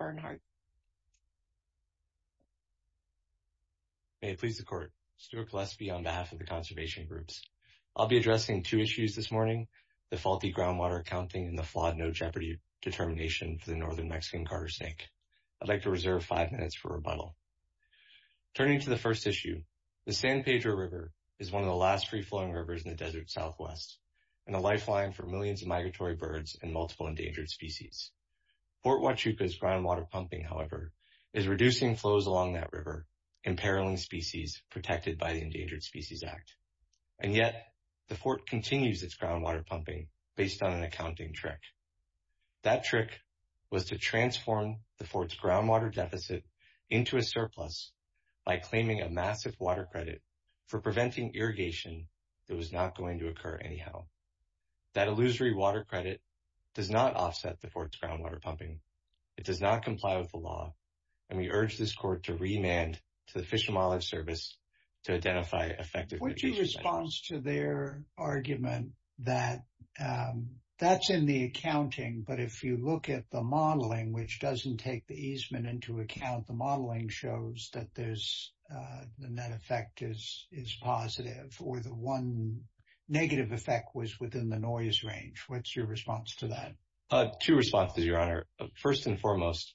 May it please the Court, Stuart Gillespie on behalf of the Conservation Groups. I'll be addressing two issues this morning, the faulty groundwater accounting and the flawed no jeopardy determination for the Northern Mexican Carter Snake. I'd like to reserve five minutes for rebuttal. Turning to the first issue, the San Pedro River is one of the last free-flowing rivers in the desert southwest and a lifeline for millions of migratory birds and pumping, however, is reducing flows along that river, imperiling species protected by the Endangered Species Act. And yet the Fort continues its groundwater pumping based on an accounting trick. That trick was to transform the Fort's groundwater deficit into a surplus by claiming a massive water credit for preventing irrigation that was not going to occur anyhow. That illusory credit does not offset the Fort's groundwater pumping. It does not comply with the law, and we urge this Court to remand to the Fish and Wildlife Service to identify effective... What's your response to their argument that that's in the accounting, but if you look at the modeling, which doesn't take the easement into account, the modeling shows that there's a net effect is positive, or the one negative effect was within the noise range. What's your response to that? Two responses, Your Honor. First and foremost,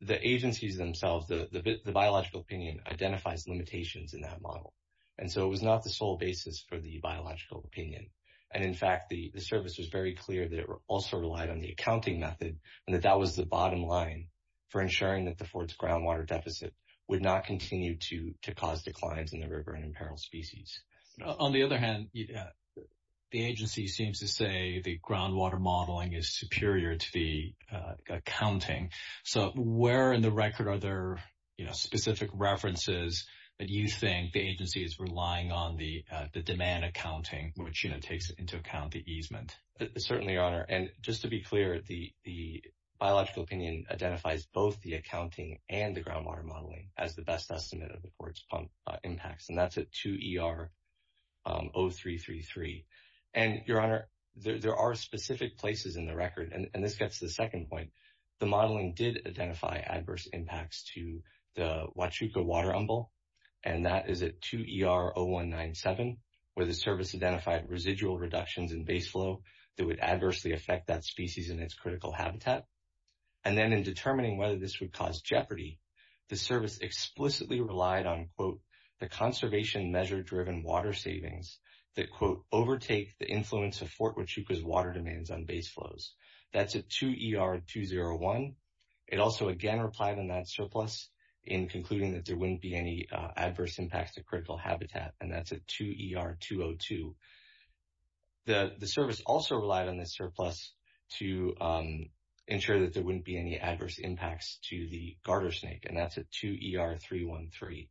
the agencies themselves, the biological opinion, identifies limitations in that model. And so it was not the sole basis for the biological opinion. And in fact, the service was very clear that it also relied on the accounting method and that that was the bottom line for ensuring that the Fort's groundwater deficit would not continue to cause declines in the river and imperil species. On the other hand, the agency seems to say the groundwater modeling is superior to the accounting. So where in the record are there specific references that you think the agency is relying on the demand accounting, which takes into account the easement? Certainly, Your Honor. And just to be clear, the biological opinion identifies both the accounting and the groundwater modeling as the best estimate of the Fort's pump impacts. And that's at 2ER0333. And Your Honor, there are specific places in the record, and this gets to the second point. The modeling did identify adverse impacts to the Huachuca water umbel, and that is at 2ER0197, where the service identified residual reductions in base flow that would adversely affect that property. The service explicitly relied on, quote, the conservation measure-driven water savings that, quote, overtake the influence of Fort Huachuca's water demands on base flows. That's at 2ER201. It also again replied on that surplus in concluding that there wouldn't be any adverse impacts to critical habitat, and that's at 2ER202. The service also relied on this surplus to ensure that there wouldn't be any adverse impacts to the garter snake, and that's at 2ER313.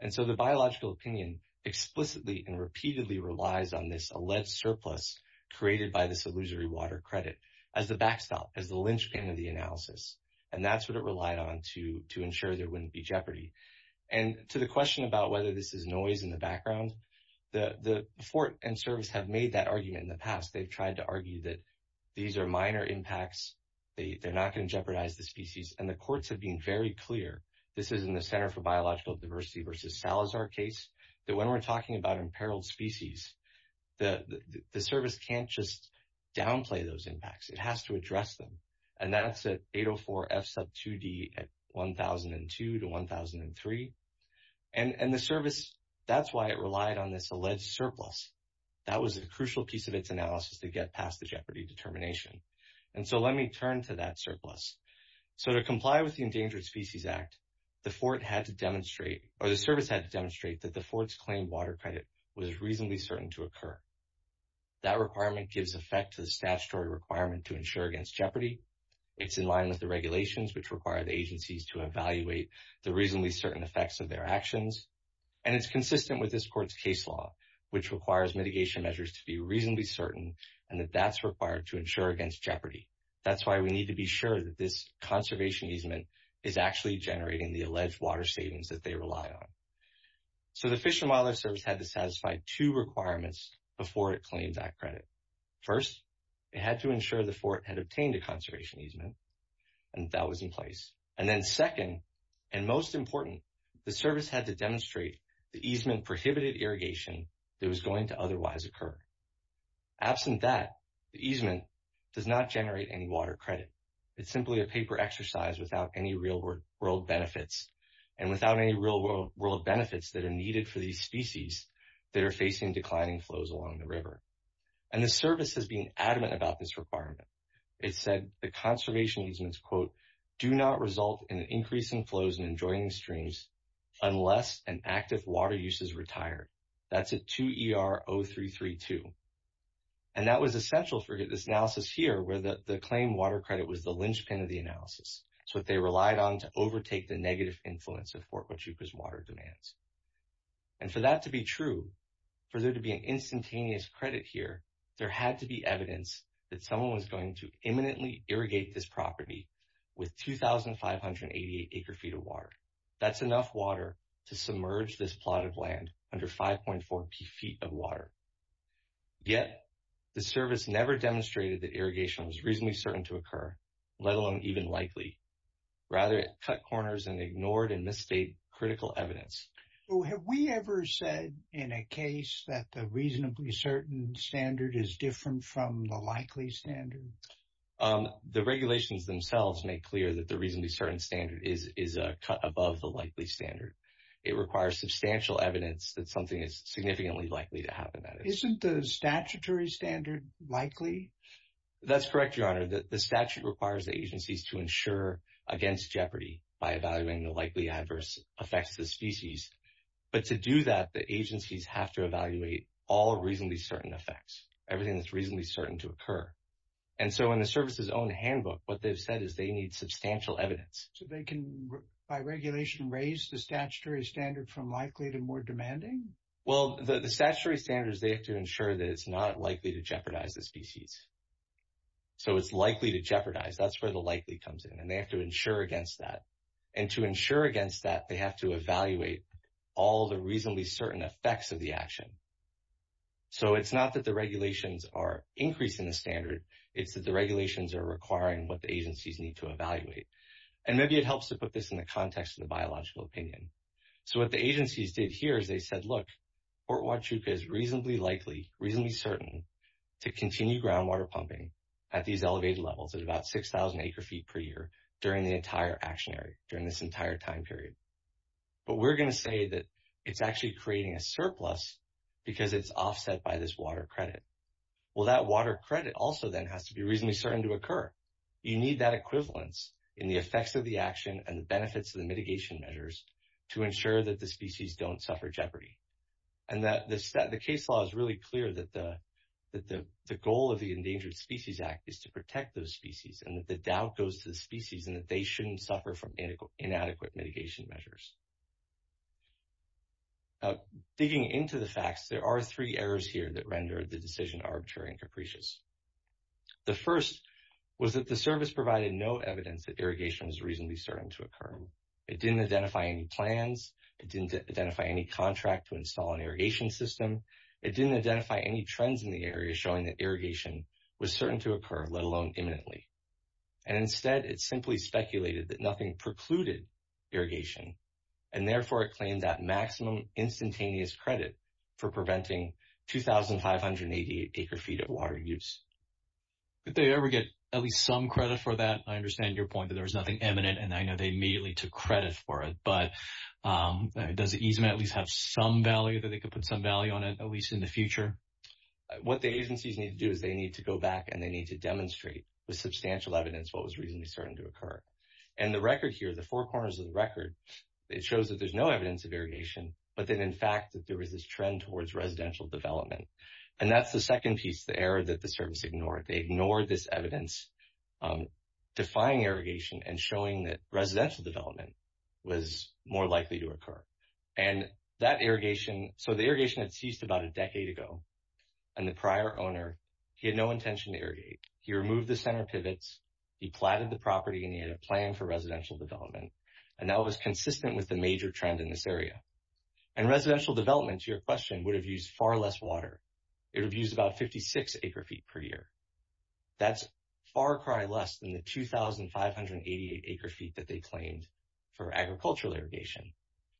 And so the biological opinion explicitly and repeatedly relies on this alleged surplus created by this illusory water credit as the backstop, as the linchpin of the analysis. And that's what it relied on to ensure there wouldn't be jeopardy. And to the question about whether this is noise in the background, the Fort and service have made that argument in the past. They've tried to argue that these are minor impacts. They're not going to jeopardize the species. And the courts have been very clear, this is in the Center for Biological Diversity versus Salazar case, that when we're talking about imperiled species, the service can't just downplay those impacts. It has to address them. And that's at 804F2D at 1002 to 1003. And the service, that's why it relied on this alleged surplus. That was a crucial piece of its analysis to get past the jeopardy determination. And so let me turn to that surplus. So to comply with the Endangered Species Act, the service had to demonstrate that the Fort's claimed water credit was reasonably certain to occur. That requirement gives effect to the statutory requirement to ensure against jeopardy. It's in line with the regulations which require the agencies to evaluate the reasonably certain effects of their actions. And it's consistent with this court's case law, which requires mitigation measures to be reasonably certain, and that that's required to ensure against jeopardy. That's why we need to be sure that this conservation easement is actually generating the alleged water savings that they rely on. So the Fish and Wildlife Service had to satisfy two requirements before it claimed that credit. First, it had to ensure the Fort had obtained a conservation easement, and that was in place. And then second, and most important, the service had to demonstrate the easement prohibited irrigation that was going to otherwise occur. Absent that, the easement does not generate any water credit. It's simply a paper exercise without any real world benefits, and without any real world benefits that are needed for these species that are facing declining flows along the river. And the service has been adamant about this requirement. It said the conservation easements, quote, do not result in an increase in flows and in joining streams unless an active water use is retired. That's at 2 ER 0332. And that was essential for this analysis here, where the claim water credit was the linchpin of the analysis. It's what they relied on to overtake the negative influence of Fort Huachuca's water demands. And for that to be true, for there to be an instantaneous credit here, there had to be evidence that someone was going to imminently irrigate this property with 2,588 acre feet of water. That's enough water to submerge this plot of land under 5.4 feet of water. Yet, the service never demonstrated that irrigation was reasonably certain to occur, let alone even likely. Rather, it cut corners and ignored and misstated critical evidence. Have we ever said in a case that the reasonably certain standard is different from the likely standard? The regulations themselves make clear that the reasonably certain standard is a cut above the likely standard. It requires substantial evidence that something is significantly likely to happen. Isn't the statutory standard likely? That's correct, Your Honor. The statute requires agencies to ensure against jeopardy by evaluating the likely adverse effects of the species. But to do that, the agencies have to evaluate all reasonably certain effects, everything that's reasonably certain to occur. And so, in the service's own handbook, what they've said is they need substantial evidence. So, they can, by regulation, raise the statutory standard from likely to more demanding? Well, the statutory standards, they have to ensure that it's not likely to jeopardize the species. So, it's likely to jeopardize. That's the likely comes in. And they have to ensure against that. And to ensure against that, they have to evaluate all the reasonably certain effects of the action. So, it's not that the regulations are increasing the standard. It's that the regulations are requiring what the agencies need to evaluate. And maybe it helps to put this in the context of the biological opinion. So, what the agencies did here is they said, look, Fort Huachuca is reasonably likely, reasonably certain to continue groundwater pumping at these elevated levels at about 6,000 acre feet per year during the entire action area, during this entire time period. But we're going to say that it's actually creating a surplus because it's offset by this water credit. Well, that water credit also then has to be reasonably certain to occur. You need that equivalence in the effects of the action and the benefits of the mitigation measures to ensure that species don't suffer jeopardy. And the case law is really clear that the goal of the Endangered Species Act is to protect those species and that the doubt goes to the species and that they shouldn't suffer from inadequate mitigation measures. Digging into the facts, there are three errors here that render the decision arbitrary and capricious. The first was that the service provided no evidence that irrigation was reasonably certain to occur. It didn't identify any plans. It didn't identify any contract to install an irrigation system. It didn't identify any trends in the area showing that irrigation was certain to occur, let alone imminently. And instead, it simply speculated that nothing precluded irrigation. And therefore, it claimed that maximum instantaneous credit for preventing 2,588 acre feet of water use. Did they ever get at least some credit for that? I understand your point that there was nothing imminent, and I know they immediately took credit for it. But does the easement at least have some value that they could put some value on it, at least in the future? What the agencies need to do is they need to go back and they need to demonstrate with substantial evidence what was reasonably certain to occur. And the record here, the four corners of the record, it shows that there's no evidence of irrigation, but that in fact that there was this trend towards residential development. And that's the second piece, the error that the service ignored. They ignored this evidence defying irrigation and showing that residential development was more likely to occur. And that irrigation, so the irrigation had ceased about a decade ago, and the prior owner, he had no intention to irrigate. He removed the center pivots, he platted the property, and he had a plan for residential development. And that was consistent with the major trend in this area. And residential development, to your question, would have used far less water. It would have used about 56 acre feet per year. That's far cry less than the 2,588 acre feet that they claimed for agricultural irrigation.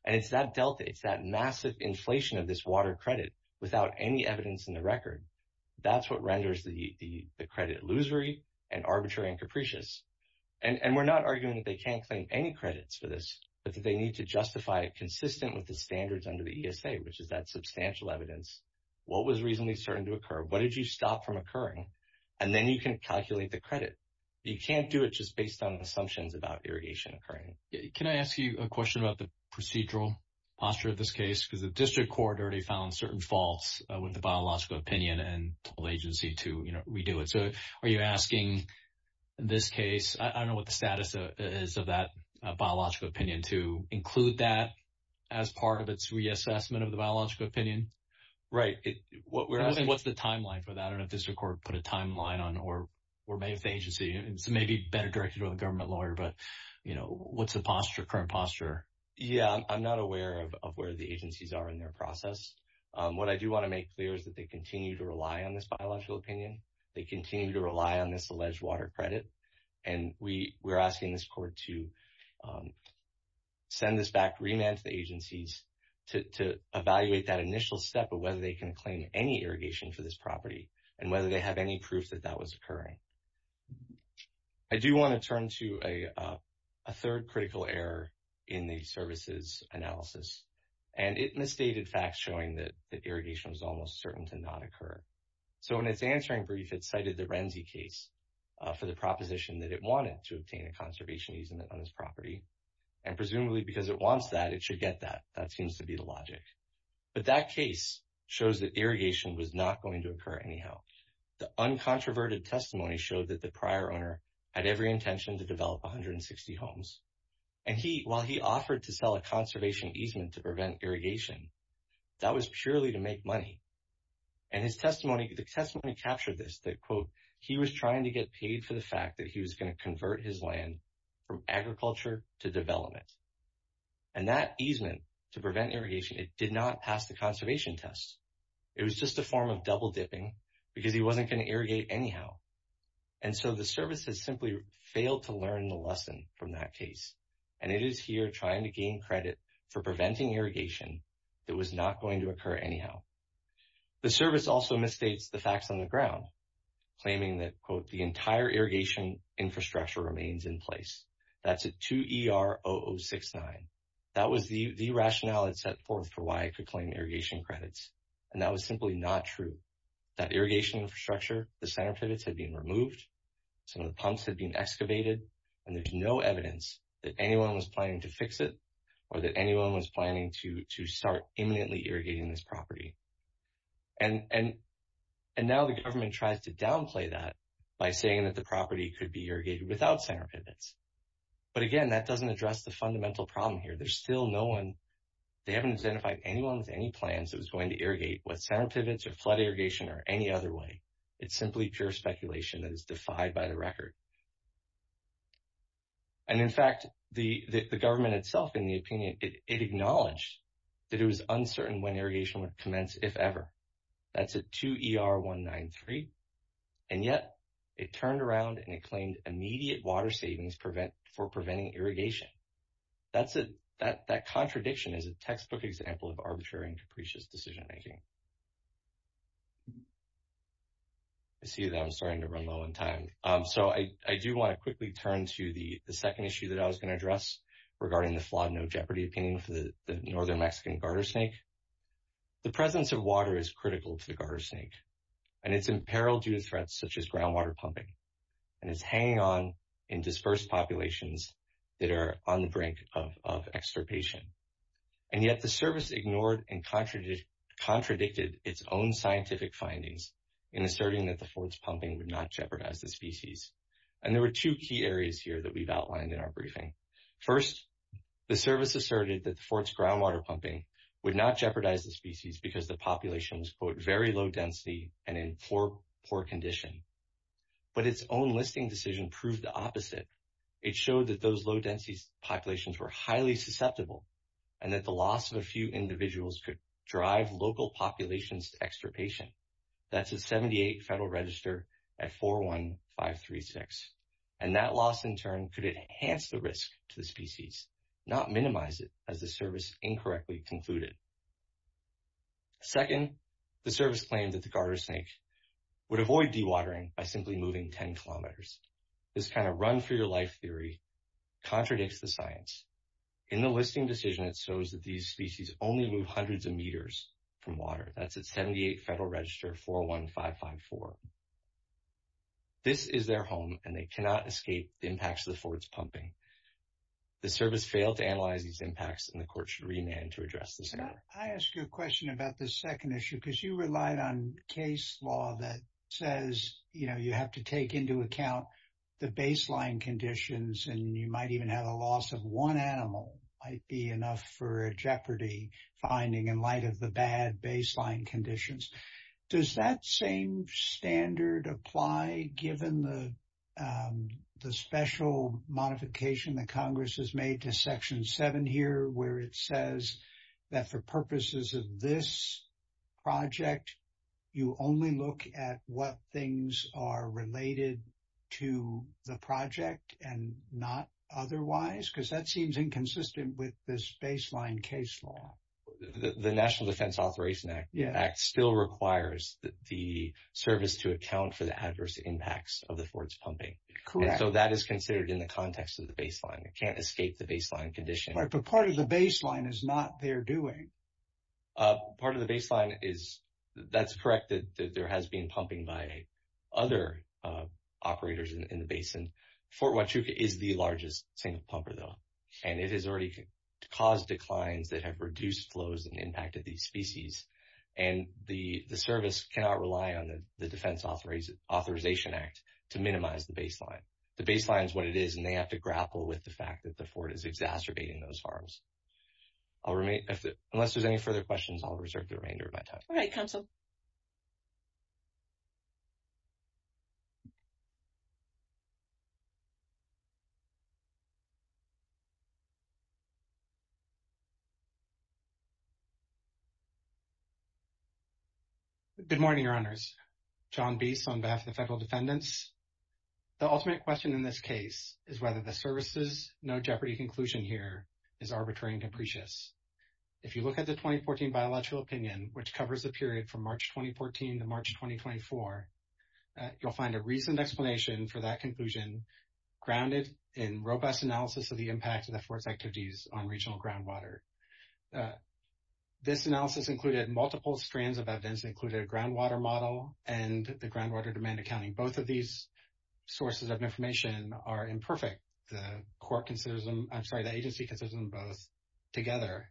And it's that delta, it's that massive inflation of this water credit without any evidence in the record. That's what renders the credit illusory and arbitrary and capricious. And we're not arguing that they can't claim any credits for this, but that they need to justify it consistent with the standards under the ESA, which is that substantial evidence. What was reasonably certain to occur? What did you stop from occurring? And then you can calculate the credit. You can't do it just based on assumptions about irrigation occurring. Can I ask you a question about the procedural posture of this case? Because the district court already found certain faults with the biological opinion and told agency to, you know, redo it. So are you asking this case, I don't know what the status is of that biological opinion, to include that as part of its reassessment of the biological opinion? Right. What we're asking, what's the timeline for that? I don't know if the district court put a timeline on, or maybe if the agency, maybe better directed to a government lawyer, but you know, what's the posture, current posture? Yeah, I'm not aware of where the agencies are in their process. What I do want to make clear is that they continue to rely on this biological opinion. They continue to rely on this alleged water credit. And we were asking this court to send this back, remand to the agencies to evaluate that initial step of whether they can claim any irrigation for this property and whether they have any proof that that was occurring. I do want to turn to a third critical error in the services analysis. And it misstated facts showing that the irrigation was almost certain to not occur. So, in its answering brief, it cited the Renzi case for the proposition that it wanted to obtain a conservation easement on this property. And presumably because it wants that, it should get that. That seems to be the logic. But that case shows that irrigation was not going to occur anyhow. The uncontroverted testimony showed that the prior owner had every intention to develop 160 homes. And he, while he offered to sell a conservation easement to prevent irrigation, that was purely to make money. And his testimony, the testimony captured this, that, quote, he was trying to get paid for the fact that he was going to convert his land from agriculture to development. And that easement to prevent irrigation, it did not pass the conservation tests. It was just a form of double dipping because he wasn't going to irrigate anyhow. And so, the services simply failed to learn the lesson from that case. And it is here trying to gain credit for preventing irrigation that was not going to occur anyhow. The service also misstates the facts on the ground, claiming that, quote, the entire irrigation infrastructure remains in place. That's a 2ER0069. That was the rationale it set forth for why it could claim irrigation credits. And that was simply not true. That irrigation infrastructure, the center pivots had been removed, some of the pumps had been excavated, and there's no evidence that anyone was planning to fix it or that anyone was planning to start imminently irrigating this property. And now the government tries to downplay that by saying that the property could be irrigated without center pivots. But again, that doesn't address the fundamental problem here. There's still no one, they haven't identified anyone with any plans that was going to irrigate with center pivots or flood irrigation or any other way. It's simply pure speculation that is defied by the government. In fact, the government itself, in the opinion, it acknowledged that it was uncertain when irrigation would commence, if ever. That's a 2ER193. And yet, it turned around and it claimed immediate water savings for preventing irrigation. That contradiction is a textbook example of arbitrary and capricious decision-making. I see that I'm starting to run low on time. So I do want to quickly turn to the second issue that I was going to address regarding the flawed no-jeopardy opinion for the northern Mexican garter snake. The presence of water is critical to the garter snake, and it's in peril due to threats such as groundwater pumping. And it's hanging on in dispersed populations that are on the brink of extirpation. And yet, the service ignored and contradicted its own scientific findings in asserting that the And there were two key areas here that we've outlined in our briefing. First, the service asserted that the fort's groundwater pumping would not jeopardize the species because the population was, quote, very low density and in poor condition. But its own listing decision proved the opposite. It showed that those low-density populations were highly susceptible and that the loss of a few individuals could drive local populations to extirpation. That's 78 Federal Register at 41536. And that loss, in turn, could enhance the risk to the species, not minimize it as the service incorrectly concluded. Second, the service claimed that the garter snake would avoid dewatering by simply moving 10 kilometers. This kind of run for your life theory contradicts the science. In the listing decision, it shows that these register 41554. This is their home, and they cannot escape the impacts of the fort's pumping. The service failed to analyze these impacts, and the court should remand to address this matter. I ask you a question about the second issue because you relied on case law that says, you know, you have to take into account the baseline conditions, and you might even have a loss of one animal might be enough for a jeopardy finding in light of the bad baseline conditions. Does that same standard apply given the special modification that Congress has made to Section 7 here where it says that for purposes of this project, you only look at what things are related to the project and not otherwise? Because that seems inconsistent with this baseline case law. The National Defense Authorization Act still requires the service to account for the adverse impacts of the fort's pumping. Correct. So that is considered in the context of the baseline. It can't escape the baseline condition. Right, but part of the baseline is not there doing. Part of the baseline is, that's correct, that there has been pumping by other operators in the basin. Fort Huachuca is the largest single pumper though, and it has already caused declines that have reduced flows and impacted these species. And the service cannot rely on the Defense Authorization Act to minimize the baseline. The baseline is what it is, and they have to grapple with the fact that the fort is exacerbating those harms. Unless there's any further questions, I'll reserve the remainder of my time. All right, counsel. Good morning, your honors. John Biese on behalf of the federal defendants. The ultimate question in this case is whether the services no jeopardy conclusion here is arbitrary and capricious. If you look at the 2014 biological opinion, which covers the period from March 2014 to March 2024, you'll find a reasoned explanation for that conclusion grounded in that this analysis included multiple strands of evidence that included a groundwater model and the groundwater demand accounting. Both of these sources of information are imperfect. The court considers them, I'm sorry, the agency considers them both together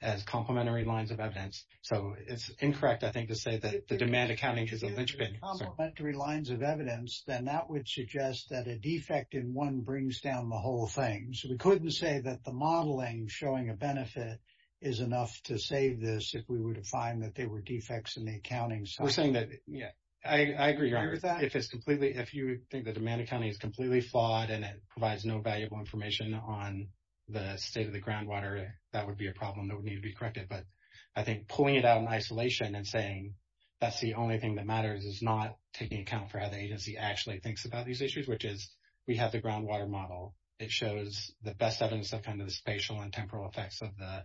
as complementary lines of evidence. So, it's incorrect, I think, to say that the demand accounting is a linchpin. If it's complementary lines of evidence, then that would suggest that a defect in one brings down the whole thing. So, we couldn't say that the modeling showing a benefit is enough to save this if we were to find that there were defects in the accounting side. We're saying that, yeah, I agree, your honor. If it's completely, if you think the demand accounting is completely flawed and it provides no valuable information on the state of the groundwater, that would be a problem that would need to be corrected. But I think pulling it out in isolation and saying that's the only thing that matters is not taking account for how the agency actually thinks about these issues, which is we have the groundwater model. It shows the best evidence of kind of the spatial and temporal effects of the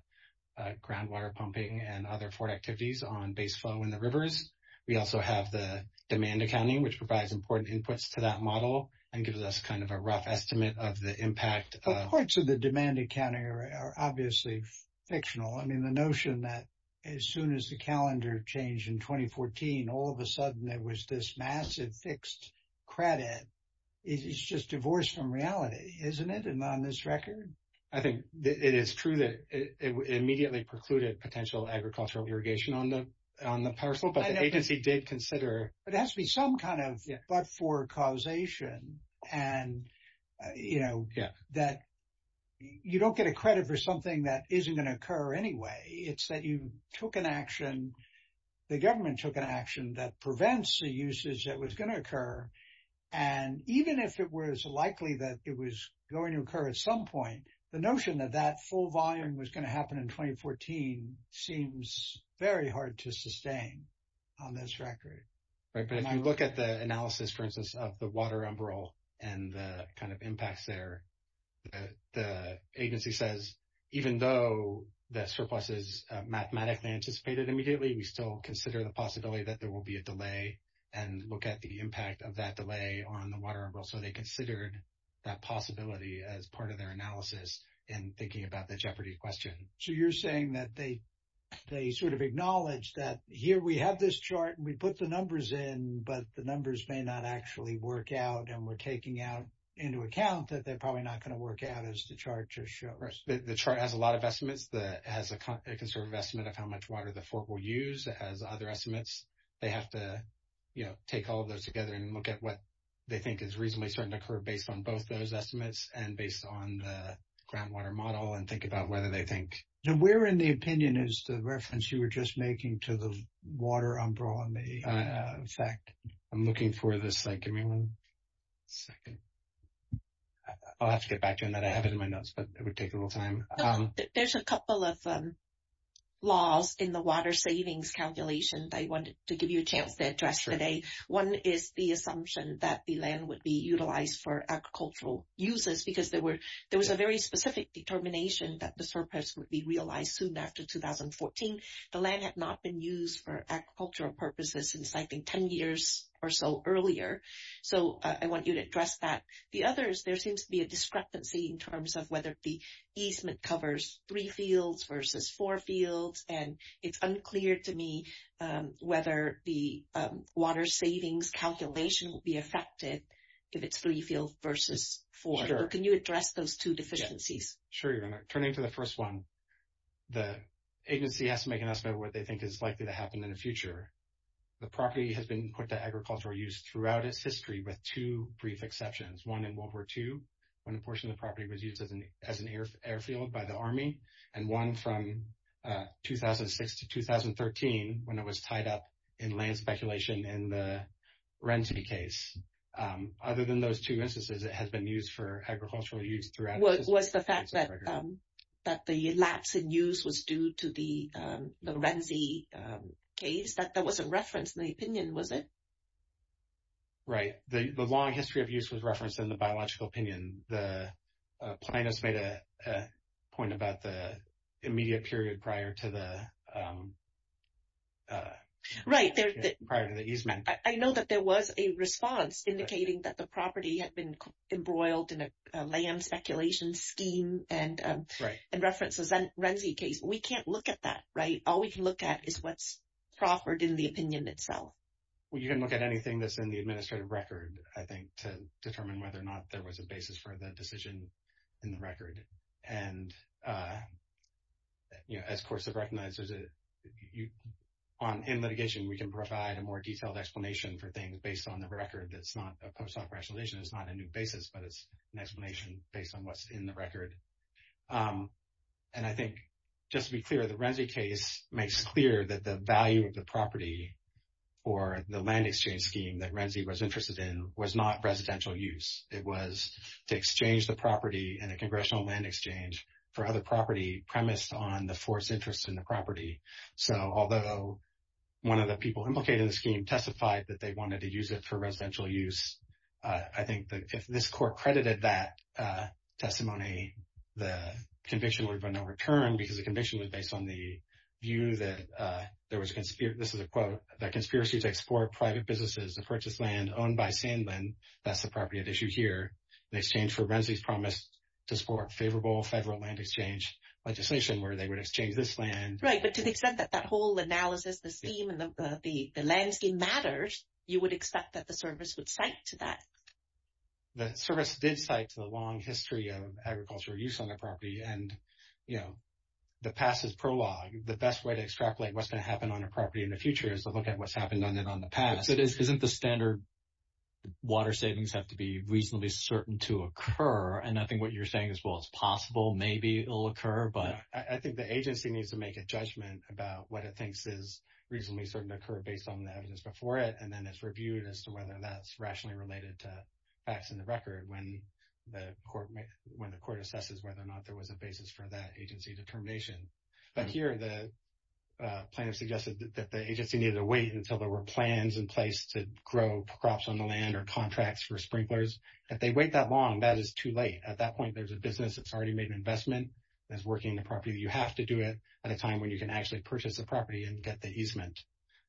groundwater pumping and other flood activities on base flow in the rivers. We also have the demand accounting, which provides important inputs to that model and gives us kind of a rough estimate of the impact. But parts of the demand accounting are obviously fictional. I mean, the notion that as soon as the credit is just divorced from reality, isn't it? And on this record? I think it is true that it immediately precluded potential agricultural irrigation on the parcel, but the agency did consider. But it has to be some kind of but-for causation and, you know, that you don't get a credit for something that isn't going to occur anyway. It's that you took an action, the government took an action, and it didn't occur. And even if it was likely that it was going to occur at some point, the notion that that full volume was going to happen in 2014 seems very hard to sustain on this record. Right. But if you look at the analysis, for instance, of the water umbrella and the kind of impacts there, the agency says, even though the surplus is mathematically anticipated immediately, we still consider the possibility that there will be a delay and look at the impact of that delay on the water umbrella. So they considered that possibility as part of their analysis in thinking about the jeopardy question. So you're saying that they sort of acknowledge that here we have this chart and we put the numbers in, but the numbers may not actually work out and we're taking out into account that they're probably not going to work out as the chart just shows. The chart has a lot of estimates that has a conservative estimate of how much water the fork will use as other estimates. They have to, you know, take all of those together and look at what they think is reasonably starting to occur based on both those estimates and based on the groundwater model and think about whether they think... Now, where in the opinion is the reference you were just making to the water umbrella effect? I'm looking for this. Give me one second. I'll have to get back to you on that. I have it in my notes, but it would take a little time. There's a couple of laws in the water savings calculation that I wanted to give you a chance to address today. One is the assumption that the land would be utilized for agricultural uses because there was a very specific determination that the surplus would be realized soon after 2014. The land had not been used for agricultural purposes since, I think, 10 years or so earlier. So I want you to address that. The other is there seems to be a discrepancy in terms of whether the easement covers three fields versus four fields. And it's unclear to me whether the water savings calculation will be affected if it's three fields versus four. Can you address those two deficiencies? Sure. Turning to the first one, the agency has to make an estimate of what they think is likely to happen in the future. The property has been put to agricultural use throughout its history with two brief exceptions, one in World War II when a portion of the property was used as an airfield by the Army, and one from 2006 to 2013 when it was tied up in land speculation in the Renzi case. Other than those two instances, it has been used for agricultural use throughout its history. Was the fact that the lapse in use was due to the Renzi case, that wasn't referenced in the opinion, was it? Right. The long history of use was referenced in the biological opinion. The plaintiffs made a point about the immediate period prior to the easement. I know that there was a response indicating that the property had been embroiled in a land speculation scheme and references that Renzi case. We can't look at that, right? All we can at is what's proffered in the opinion itself. Well, you can look at anything that's in the administrative record, I think, to determine whether or not there was a basis for the decision in the record. As courts have recognized, in litigation, we can provide a more detailed explanation for things based on the record that's not a post-op rationalization. It's not a new basis, but it's an explanation based on what's in the record. And I think, just to be clear, the Renzi case makes clear that the value of the property or the land exchange scheme that Renzi was interested in was not residential use. It was to exchange the property in a congressional land exchange for other property premised on the force interest in the property. So although one of the people implicated in the scheme testified that they wanted to use it for residential use, I think that if this court credited that testimony, the conviction would have been overturned because the conviction was based on the view that there was, this is a quote, that conspiracy to export private businesses to purchase land owned by Sandlin, that's the property at issue here, in exchange for Renzi's promise to support favorable federal land exchange legislation where they would exchange this land. Right, but to the extent that that whole analysis, the scheme and the land scheme matters, you would expect that the service would cite to that? The service did cite to the long history of agricultural use on the property and, you know, the past is prologue. The best way to extrapolate what's going to happen on a property in the future is to look at what's happened on it on the past. Isn't the standard water savings have to be reasonably certain to occur? And I think what you're saying is, well, it's possible, maybe it'll occur, but... I think the agency needs to make a judgment about what it thinks is reasonably certain to occur based on the evidence before it, and then it's reviewed as to whether that's rationally related to facts in the record when the court assesses whether or not there was a basis for that agency determination. But here, the plaintiff suggested that the agency needed to wait until there were plans in place to grow crops on the land or contracts for sprinklers. If they wait that long, that is too late. At that point, there's a business that's already made an investment that's working the property. You have to do it at a time when you can actually purchase the property and get the easement.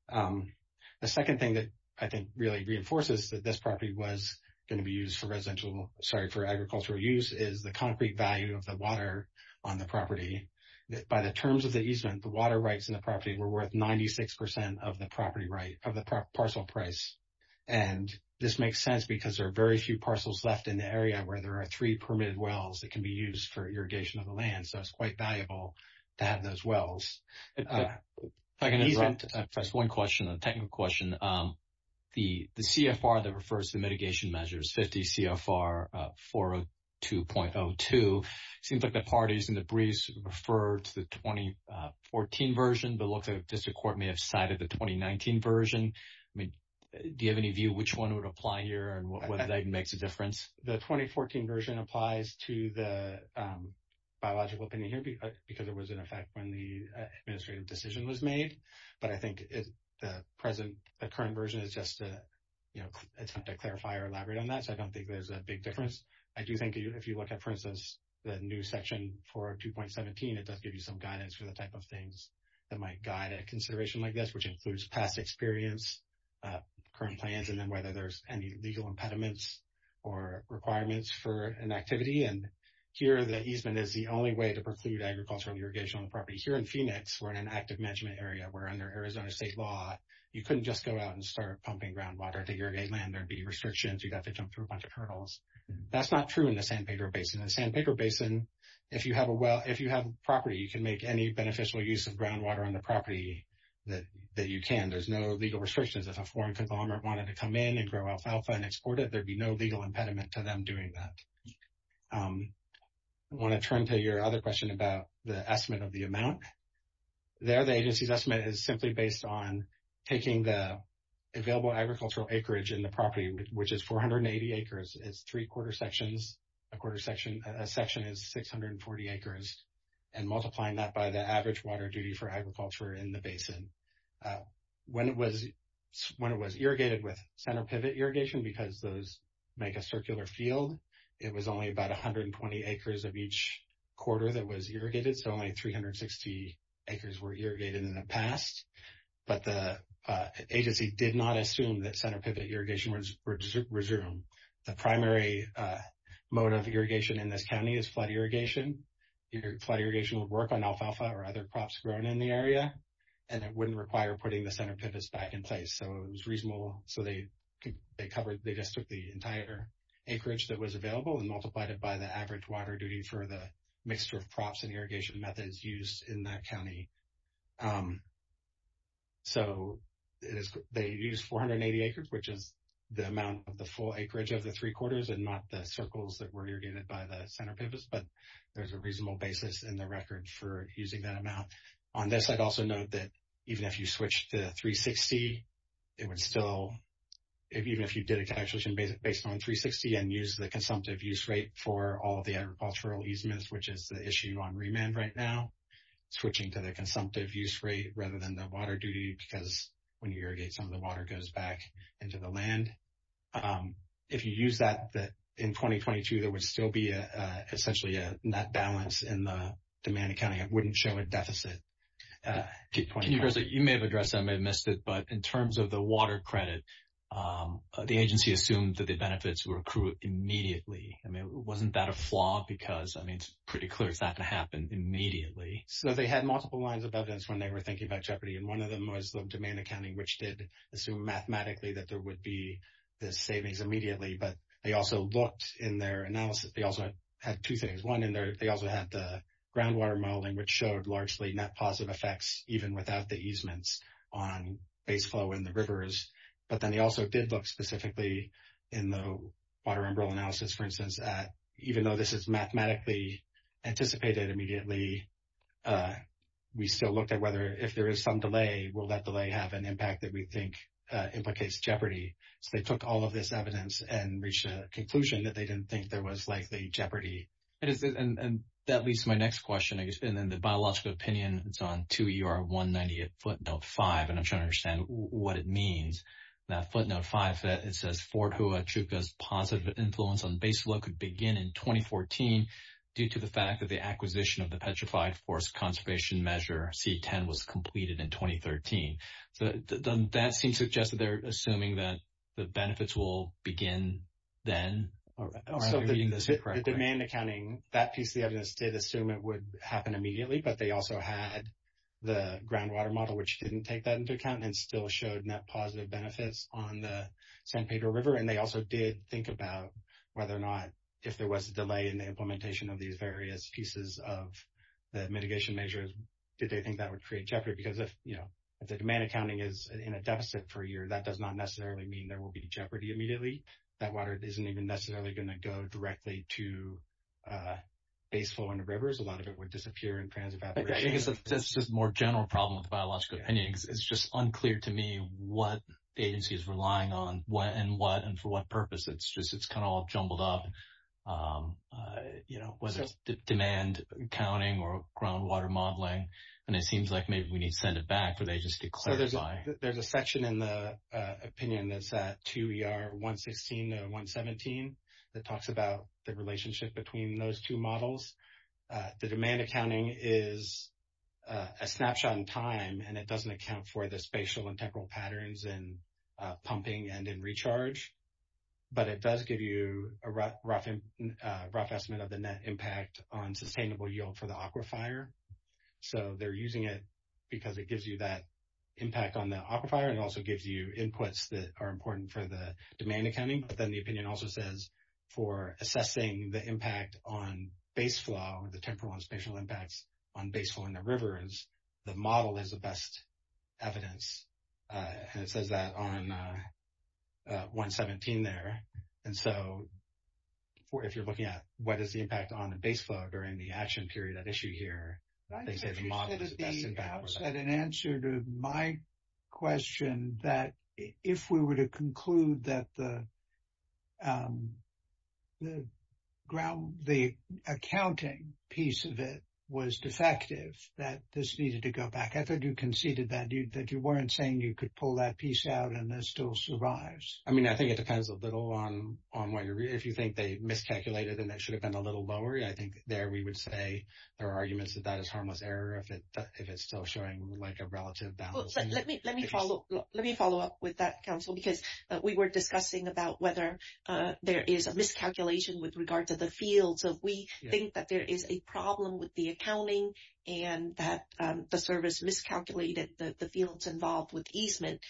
The second thing that I think really reinforces that this property was going to be used for agricultural use is the concrete value of the water on the property. By the terms of the easement, the water rights in the property were worth 96% of the property right, of the parcel price. And this makes sense because there are very few parcels left in the area where there are three permitted wells that can be used for irrigation of the land. So, it's quite valuable to have those wells. If I can interrupt, just one question, a technical question. The CFR that refers to mitigation measures, 50 CFR 402.02, seems like the parties and the briefs refer to the 2014 version, but it looks like the district court may have cited the 2019 version. Do you have any view which one would apply here and whether that makes a difference? The 2014 version applies to the biological opinion here because it was in effect when the administrative decision was made. But I think the present, the current version is just attempt to clarify or elaborate on that. So, I don't think there's a big difference. I do think if you look at, for instance, the new section 402.17, it does give you some guidance for the type of things that might guide a consideration like this, which includes past experience, current plans, and then whether there's any legal impediments or requirements for an activity. And here, the easement is the only way to preclude agricultural irrigation on the property. Here in Phoenix, we're in an active management area where under Arizona state law, you couldn't just go out and start pumping groundwater to irrigate land. There'd be restrictions. You'd have to jump through a bunch of hurdles. That's not true in the Sandpaker Basin. In the Sandpaker Basin, if you have a well, if you have property, you can make any beneficial use of groundwater on the property that you can. There's no legal restrictions. If a foreign conglomerate wanted to come in and grow alfalfa and export it, there'd be no legal impediment to them doing that. I want to turn to your other question about the estimate of the amount. There, the agency's estimate is simply based on taking the available agricultural acreage in the property, which is 480 acres. It's three quarter sections. A quarter section, a section is 640 acres and multiplying that by the average water duty for agriculture in the basin. When it was irrigated with center pivot irrigation, because those make a circular field, it was only about 120 acres of each quarter that was irrigated. So only 360 acres were irrigated in the past. But the agency did not assume that center pivot irrigation would resume. The primary mode of irrigation in this county is flood irrigation. Flood irrigation would work on alfalfa or other crops grown in the area, and it wouldn't require putting the center pivots back in place. So it was reasonable. So they covered, they just took the entire acreage that was available and multiplied it by the average water duty for the mixture of crops and irrigation methods used in that county. So they used 480 acres, which is the amount of the full acreage of the three quarters and not the circles that were irrigated by the center pivots. But there's a reasonable basis in the record for using that amount. On this, I'd also note that even if you switch to 360, it would still, even if you did a calculation based on 360 and use the consumptive use rate for all of the agricultural easements, which is the issue on remand right now, switching to the consumptive use rate rather than the water duty, because when you irrigate, some of the water goes back into the land. If you use that in 2022, there would still be essentially a net balance in the demand accounting. It wouldn't show a deficit. You may have addressed that, I may have missed it, but in terms of the water credit, the agency assumed that the benefits were accrued immediately. I mean, wasn't that a flaw? Because I mean, it's pretty clear it's not going to happen immediately. So they had multiple lines of evidence when they were thinking about jeopardy, and one of them was the demand accounting, which did assume mathematically that there would be the savings immediately. But they also looked in their analysis, they also had two things. One in there, they also had the groundwater modeling, which showed largely net positive effects even without the easements on base flow in the rivers. But then they also did look specifically in the water umbrella analysis, for instance, that even though this is mathematically anticipated immediately, we still looked at whether, if there is some delay, will that delay have an impact that we think implicates jeopardy? So they took all of this evidence and reached a conclusion that they didn't think there was likely jeopardy. It is, and that leads to my next question, I guess, and then the biological opinion, it's on 2ER198 footnote 5, and I'm trying to understand what it means. That footnote 5, it says Fort Huachuca's positive influence on base flow could begin in 2014 due to the fact that the acquisition of the Petrified Forest Conservation Measure C10 was completed in 2013. So that seems to suggest that they're assuming that the benefits will begin then. Are we reading this correctly? The demand accounting, that piece of the evidence did assume it would happen immediately, but they also had the groundwater model, which didn't take that into account and still showed net positive benefits on the San Pedro River. And they also did think about whether or not, if there was a delay in the implementation of these various pieces of the mitigation measures, did they think that would create jeopardy? Because if, you know, if the demand accounting is in a deficit for a year, that does not necessarily mean there will be jeopardy immediately. That water isn't even necessarily going to go directly to base flow in the rivers. A lot of it would disappear in transit operations. I think it's just a more general problem with the biological opinion, because it's just unclear to me what the agency is relying on and for what purpose. It's just, it's kind of all jumbled up. You know, was it demand counting or groundwater modeling? And it seems like maybe we need to send it back for the agency to clarify. So there's a section in the opinion that's at 2 ER 116 and 117, that talks about the relationship between those two models. The demand accounting is a snapshot in time and it doesn't account for the spatial and temporal patterns in but it does give you a rough estimate of the net impact on sustainable yield for the aquifer. So they're using it because it gives you that impact on the aquifer and also gives you inputs that are important for the demand accounting. But then the opinion also says for assessing the impact on base flow, the temporal and spatial impacts on base flow in the rivers, the model is the best evidence. And it says that on 117 there. And so, if you're looking at what is the impact on the base flow during the action period at issue here, they say the model is the best impact. But I think you said at the outset in answer to my question that if we were to conclude that the accounting piece of it was defective, that this needed to go back. I thought you conceded that you weren't saying you could pull that piece out and it still survives. I mean, I think it depends a little on what you're reading. If you think they miscalculated and that should have been a little lower, I think there we would say there are arguments that that is harmless error if it's still showing like a relative balance. Well, let me follow up with that, counsel, because we were discussing about whether there is a miscalculation with regard to the fields. So, if we think that there is a problem with the accounting and that the service miscalculated the fields involved with easement,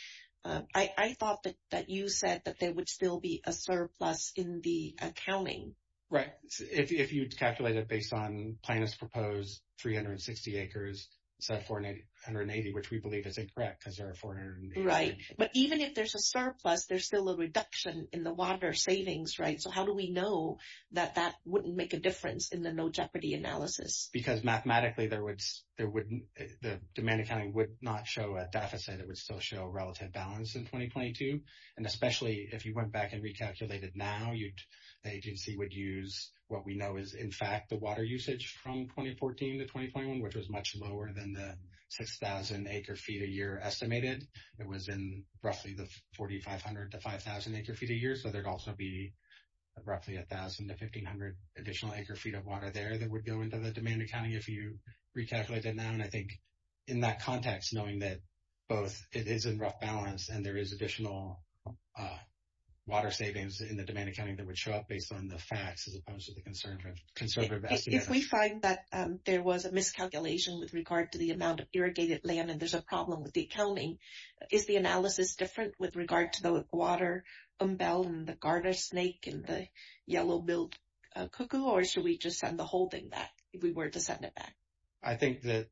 I thought that you said that there would still be a surplus in the accounting. Right. If you'd calculate it based on Plaintiff's proposed 360 acres instead of 480, which we believe is incorrect because there are 480. Right. But even if there's a surplus, there's still a reduction in the water savings, right? So, how do we know that that wouldn't make a difference in the no jeopardy analysis? Because mathematically, the demand accounting would not show a deficit, it would still show a relative balance in 2022. And especially if you went back and recalculated now, the agency would use what we know is in fact the water usage from 2014 to 2021, which was much lower than the 6,000 acre feet a year estimated. It was in roughly the 4,500 to 5,000 acre feet a year. So, there'd also be roughly 1,000 to 1,500 additional acre feet of water there that would go into the demand accounting if you recalculated now. And I think in that context, knowing that both it is in rough balance and there is additional water savings in the demand accounting that would show up based on the facts as opposed to the concern from conservative estimates. If we find that there was a miscalculation with regard to the amount of irrigated land and there's a problem with the accounting, is the analysis different with regard to the water umbel and the garter snake and the yellow-billed cuckoo? Or should we just send the whole thing back if we were to send it back? I think that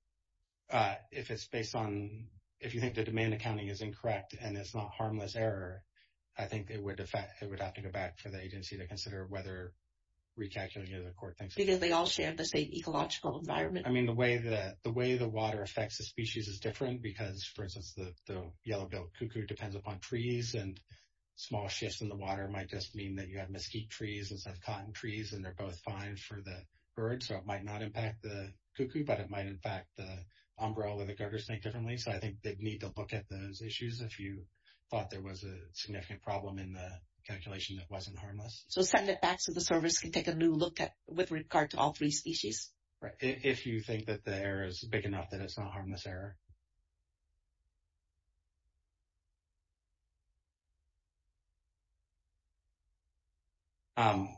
if it's based on, if you think the demand accounting is incorrect and it's not harmless error, I think it would have to go back for the agency to consider whether recalculating the other core things. Because they all share the same ecological environment. I mean, the way the water affects the species is different because, for instance, the yellow-billed cuckoo depends upon trees. And small shifts in the water might just mean that you have mesquite trees instead of cotton trees. And they're both fine for the birds. So, it might not impact the cuckoo, but it might impact the umbrella or the garter snake differently. So, I think they'd need to look at those issues if you thought there was a significant problem in the calculation that wasn't harmless. So, send it back so the service can take a new look at, with regard to all three species. Right. If you think that the error is big enough that it's not harmless error. Going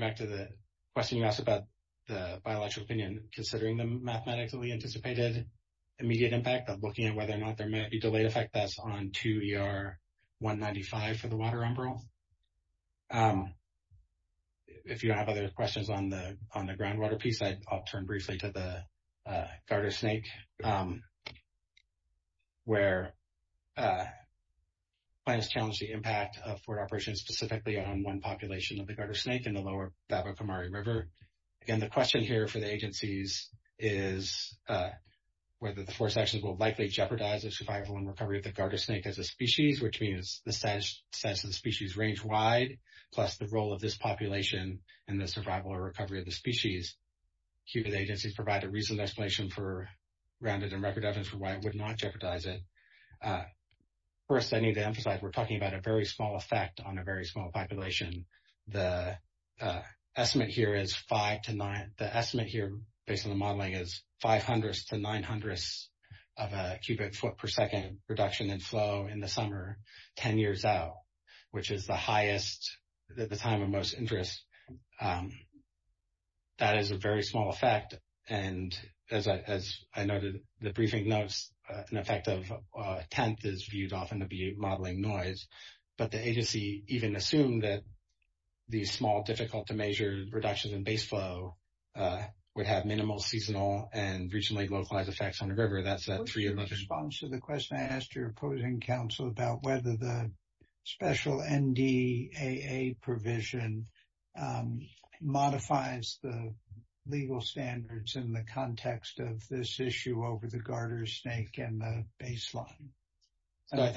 back to the question you asked about the biological opinion, considering the whether or not there may be a delayed effect that's on 2ER-195 for the water umbrella. If you don't have other questions on the groundwater piece, I'll turn briefly to the garter snake. Where plans challenge the impact of ford operations specifically on one population of the garter snake in the lower Bava Kamari River. Again, the question here for the agencies is whether the four sections will likely jeopardize the survival and recovery of the garter snake as a species, which means the status of the species range wide, plus the role of this population and the survival or recovery of the species. Cuban agencies provide a reasonable explanation for rounded and record evidence for why it would not jeopardize it. First, I need to emphasize, we're talking about a very small effect on a very small population. The estimate here is five to nine. The estimate here, based on the modeling, is five hundredths to nine hundredths of a cubic foot per second reduction in flow in the summer, 10 years out, which is the highest, at the time of most interest. That is a very small effect. And as I noted, the briefing notes, an effect of a tenth is often to be modeling noise. But the agency even assumed that these small, difficult to measure reductions in base flow would have minimal seasonal and reasonably localized effects on the river. That's a three-year-old response to the question I asked your opposing counsel about whether the special NDAA provision modifies the legal standards in the context of this issue over the garter snake and the baseline. I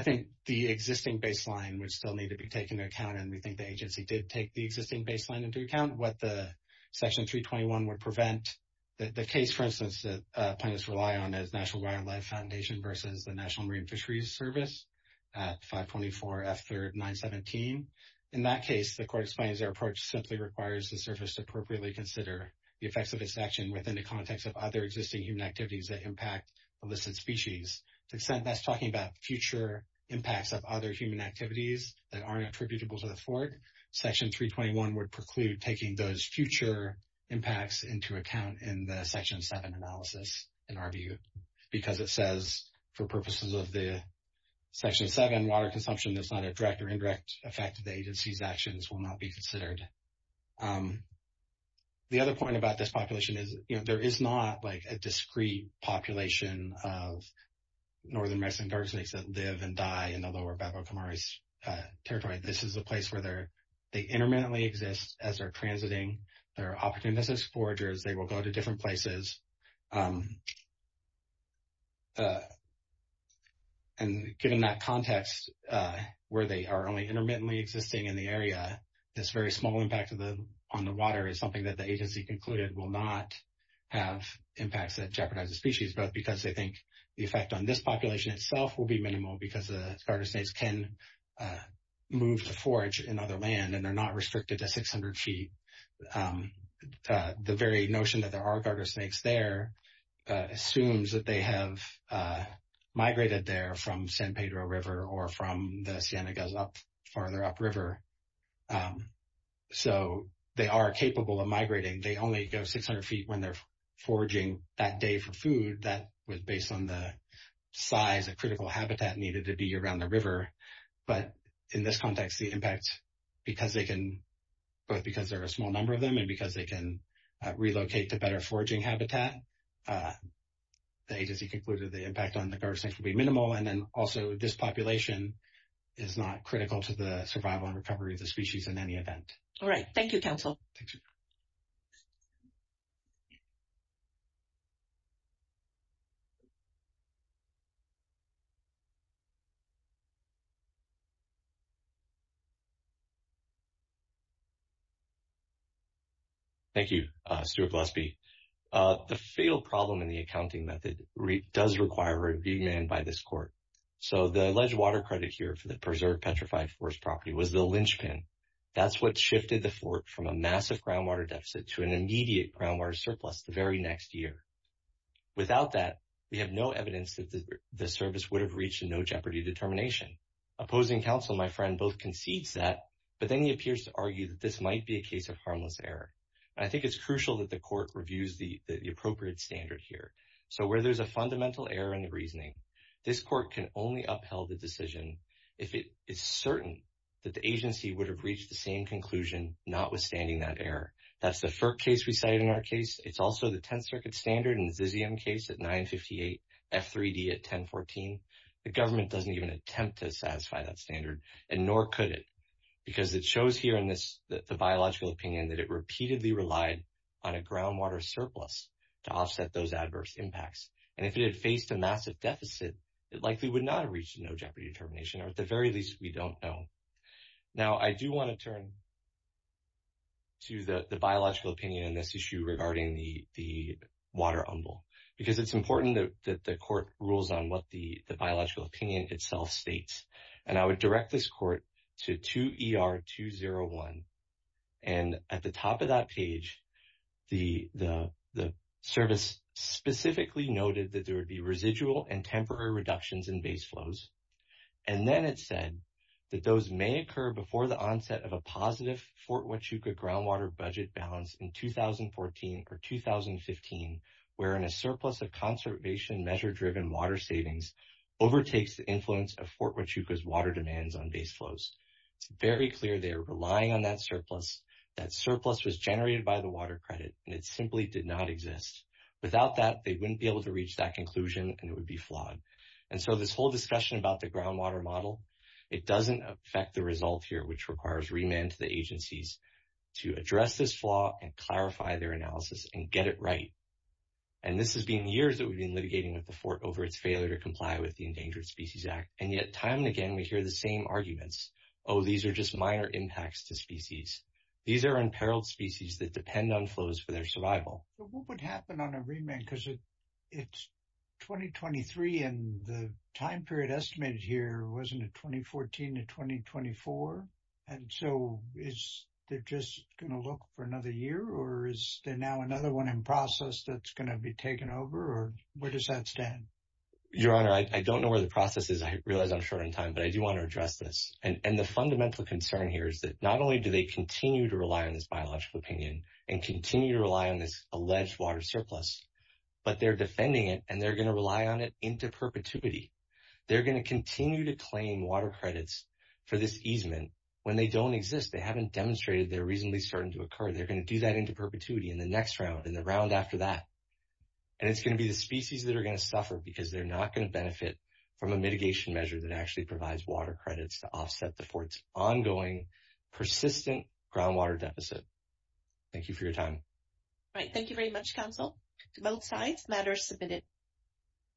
think the existing baseline would still need to be taken into account. And we think the agency did take the existing baseline into account. What the Section 321 would prevent. The case, for instance, that plaintiffs rely on is National Wildlife Foundation versus the National Marine Fisheries Service at 524 F3rd 917. In that case, the court explains their approach simply requires the service to appropriately consider the effects of its action within the context of other existing human activities that impact elicited species. To the extent that's talking about future impacts of other human activities that aren't attributable to the fork, Section 321 would preclude taking those future impacts into account in the Section 7 analysis, in our view. Because it says for purposes of the Section 7, water consumption is not a direct or indirect effect of the agency's actions will not be considered. The other point about this population is, you know, there is not like a discreet population of northern Mexican garter snakes that live and die in the lower Bapa Kamari territory. This is a place where they're, they intermittently exist as they're transiting, there are opportunistic foragers, they will go to different places. And given that context, where they are only intermittently existing in the area, this very small impact on the water is something that the agency concluded will not have impacts that jeopardize the species, but because they think the effect on this population itself will be minimal because the garter snakes can move to forage in other land, and they're not restricted to 600 feet. The very notion that there are garter snakes there assumes that they have migrated there from San Pedro River or from the Cienegas up, farther up river. So they are capable of migrating, they only go 600 feet when they're foraging that day for food, that was based on the size of critical habitat needed to be around the river. But in this context, the impact, because they can, both because there are a small number of them and because they can relocate to better foraging habitat, the agency concluded the impact on the garter snakes will be minimal. And then also this population is not critical to the survival and recovery of the species in any event. All right. Thank you, counsel. Thank you, Stuart Gillespie. The field problem in the accounting method does require a remand by this court. So the alleged water credit here for the preserved petrified forest property was the linchpin. That's what shifted the fort from a massive groundwater deficit to an immediate groundwater surplus the very next year. Without that, we have no evidence that the service would have reached a no jeopardy determination. Opposing counsel, my friend, both concedes that, but then he appears to argue that this might be a case of harmless error. I think it's crucial that the court reviews the appropriate standard here. So where there's a fundamental error in the reasoning, this court can only upheld the decision if it is certain that the agency would have reached the same conclusion, notwithstanding that error. That's the FERC case we cited in our case. It's also the 10th Circuit standard in the Zizium case at 958, F3D at 1014. The government doesn't even attempt to satisfy that standard, and nor could it, because it shows here in the biological opinion that it repeatedly relied on a groundwater surplus to offset those adverse impacts. And if it had faced a massive deficit, it likely would not have reached a no jeopardy determination, or at the very least, we don't know. Now, I do want to turn to the biological opinion on this issue regarding the water umbel, because it's important that the court rules on what the biological opinion itself states. And I would direct this court to 2ER201. And at the top of that page, the service specifically noted that there would be residual and temporary reductions in base flows. And then it said that those may occur before the onset of a positive Fort Huachuca groundwater budget balance in 2014 or 2015, wherein a surplus of conservation measure-driven water savings overtakes the water demands on base flows. It's very clear they're relying on that surplus. That surplus was generated by the water credit, and it simply did not exist. Without that, they wouldn't be able to reach that conclusion, and it would be flawed. And so this whole discussion about the groundwater model, it doesn't affect the result here, which requires remand to the agencies to address this flaw and clarify their analysis and get it right. And this has been years that we've been litigating at the Fort over its failure to comply with the Endangered Species Act. And yet, time and again, we hear the same arguments. Oh, these are just minor impacts to species. These are unparalleled species that depend on flows for their survival. But what would happen on a remand? Because it's 2023, and the time period estimated here wasn't it 2014 to 2024? And so is it just going to look for another year? Or is there now another one in process that's going to be taken over? Or does that stand? Your Honor, I don't know where the process is. I realize I'm short on time, but I do want to address this. And the fundamental concern here is that not only do they continue to rely on this biological opinion and continue to rely on this alleged water surplus, but they're defending it, and they're going to rely on it into perpetuity. They're going to continue to claim water credits for this easement when they don't exist. They haven't demonstrated they're reasonably certain to occur. They're going to do that into perpetuity in the next round and the round after that. And it's going to be the species that are going to suffer because they're not going to benefit from a mitigation measure that actually provides water credits to offset the Fort's ongoing persistent groundwater deficit. Thank you for your time. All right. Thank you very much, counsel. To both sides, matters submitted.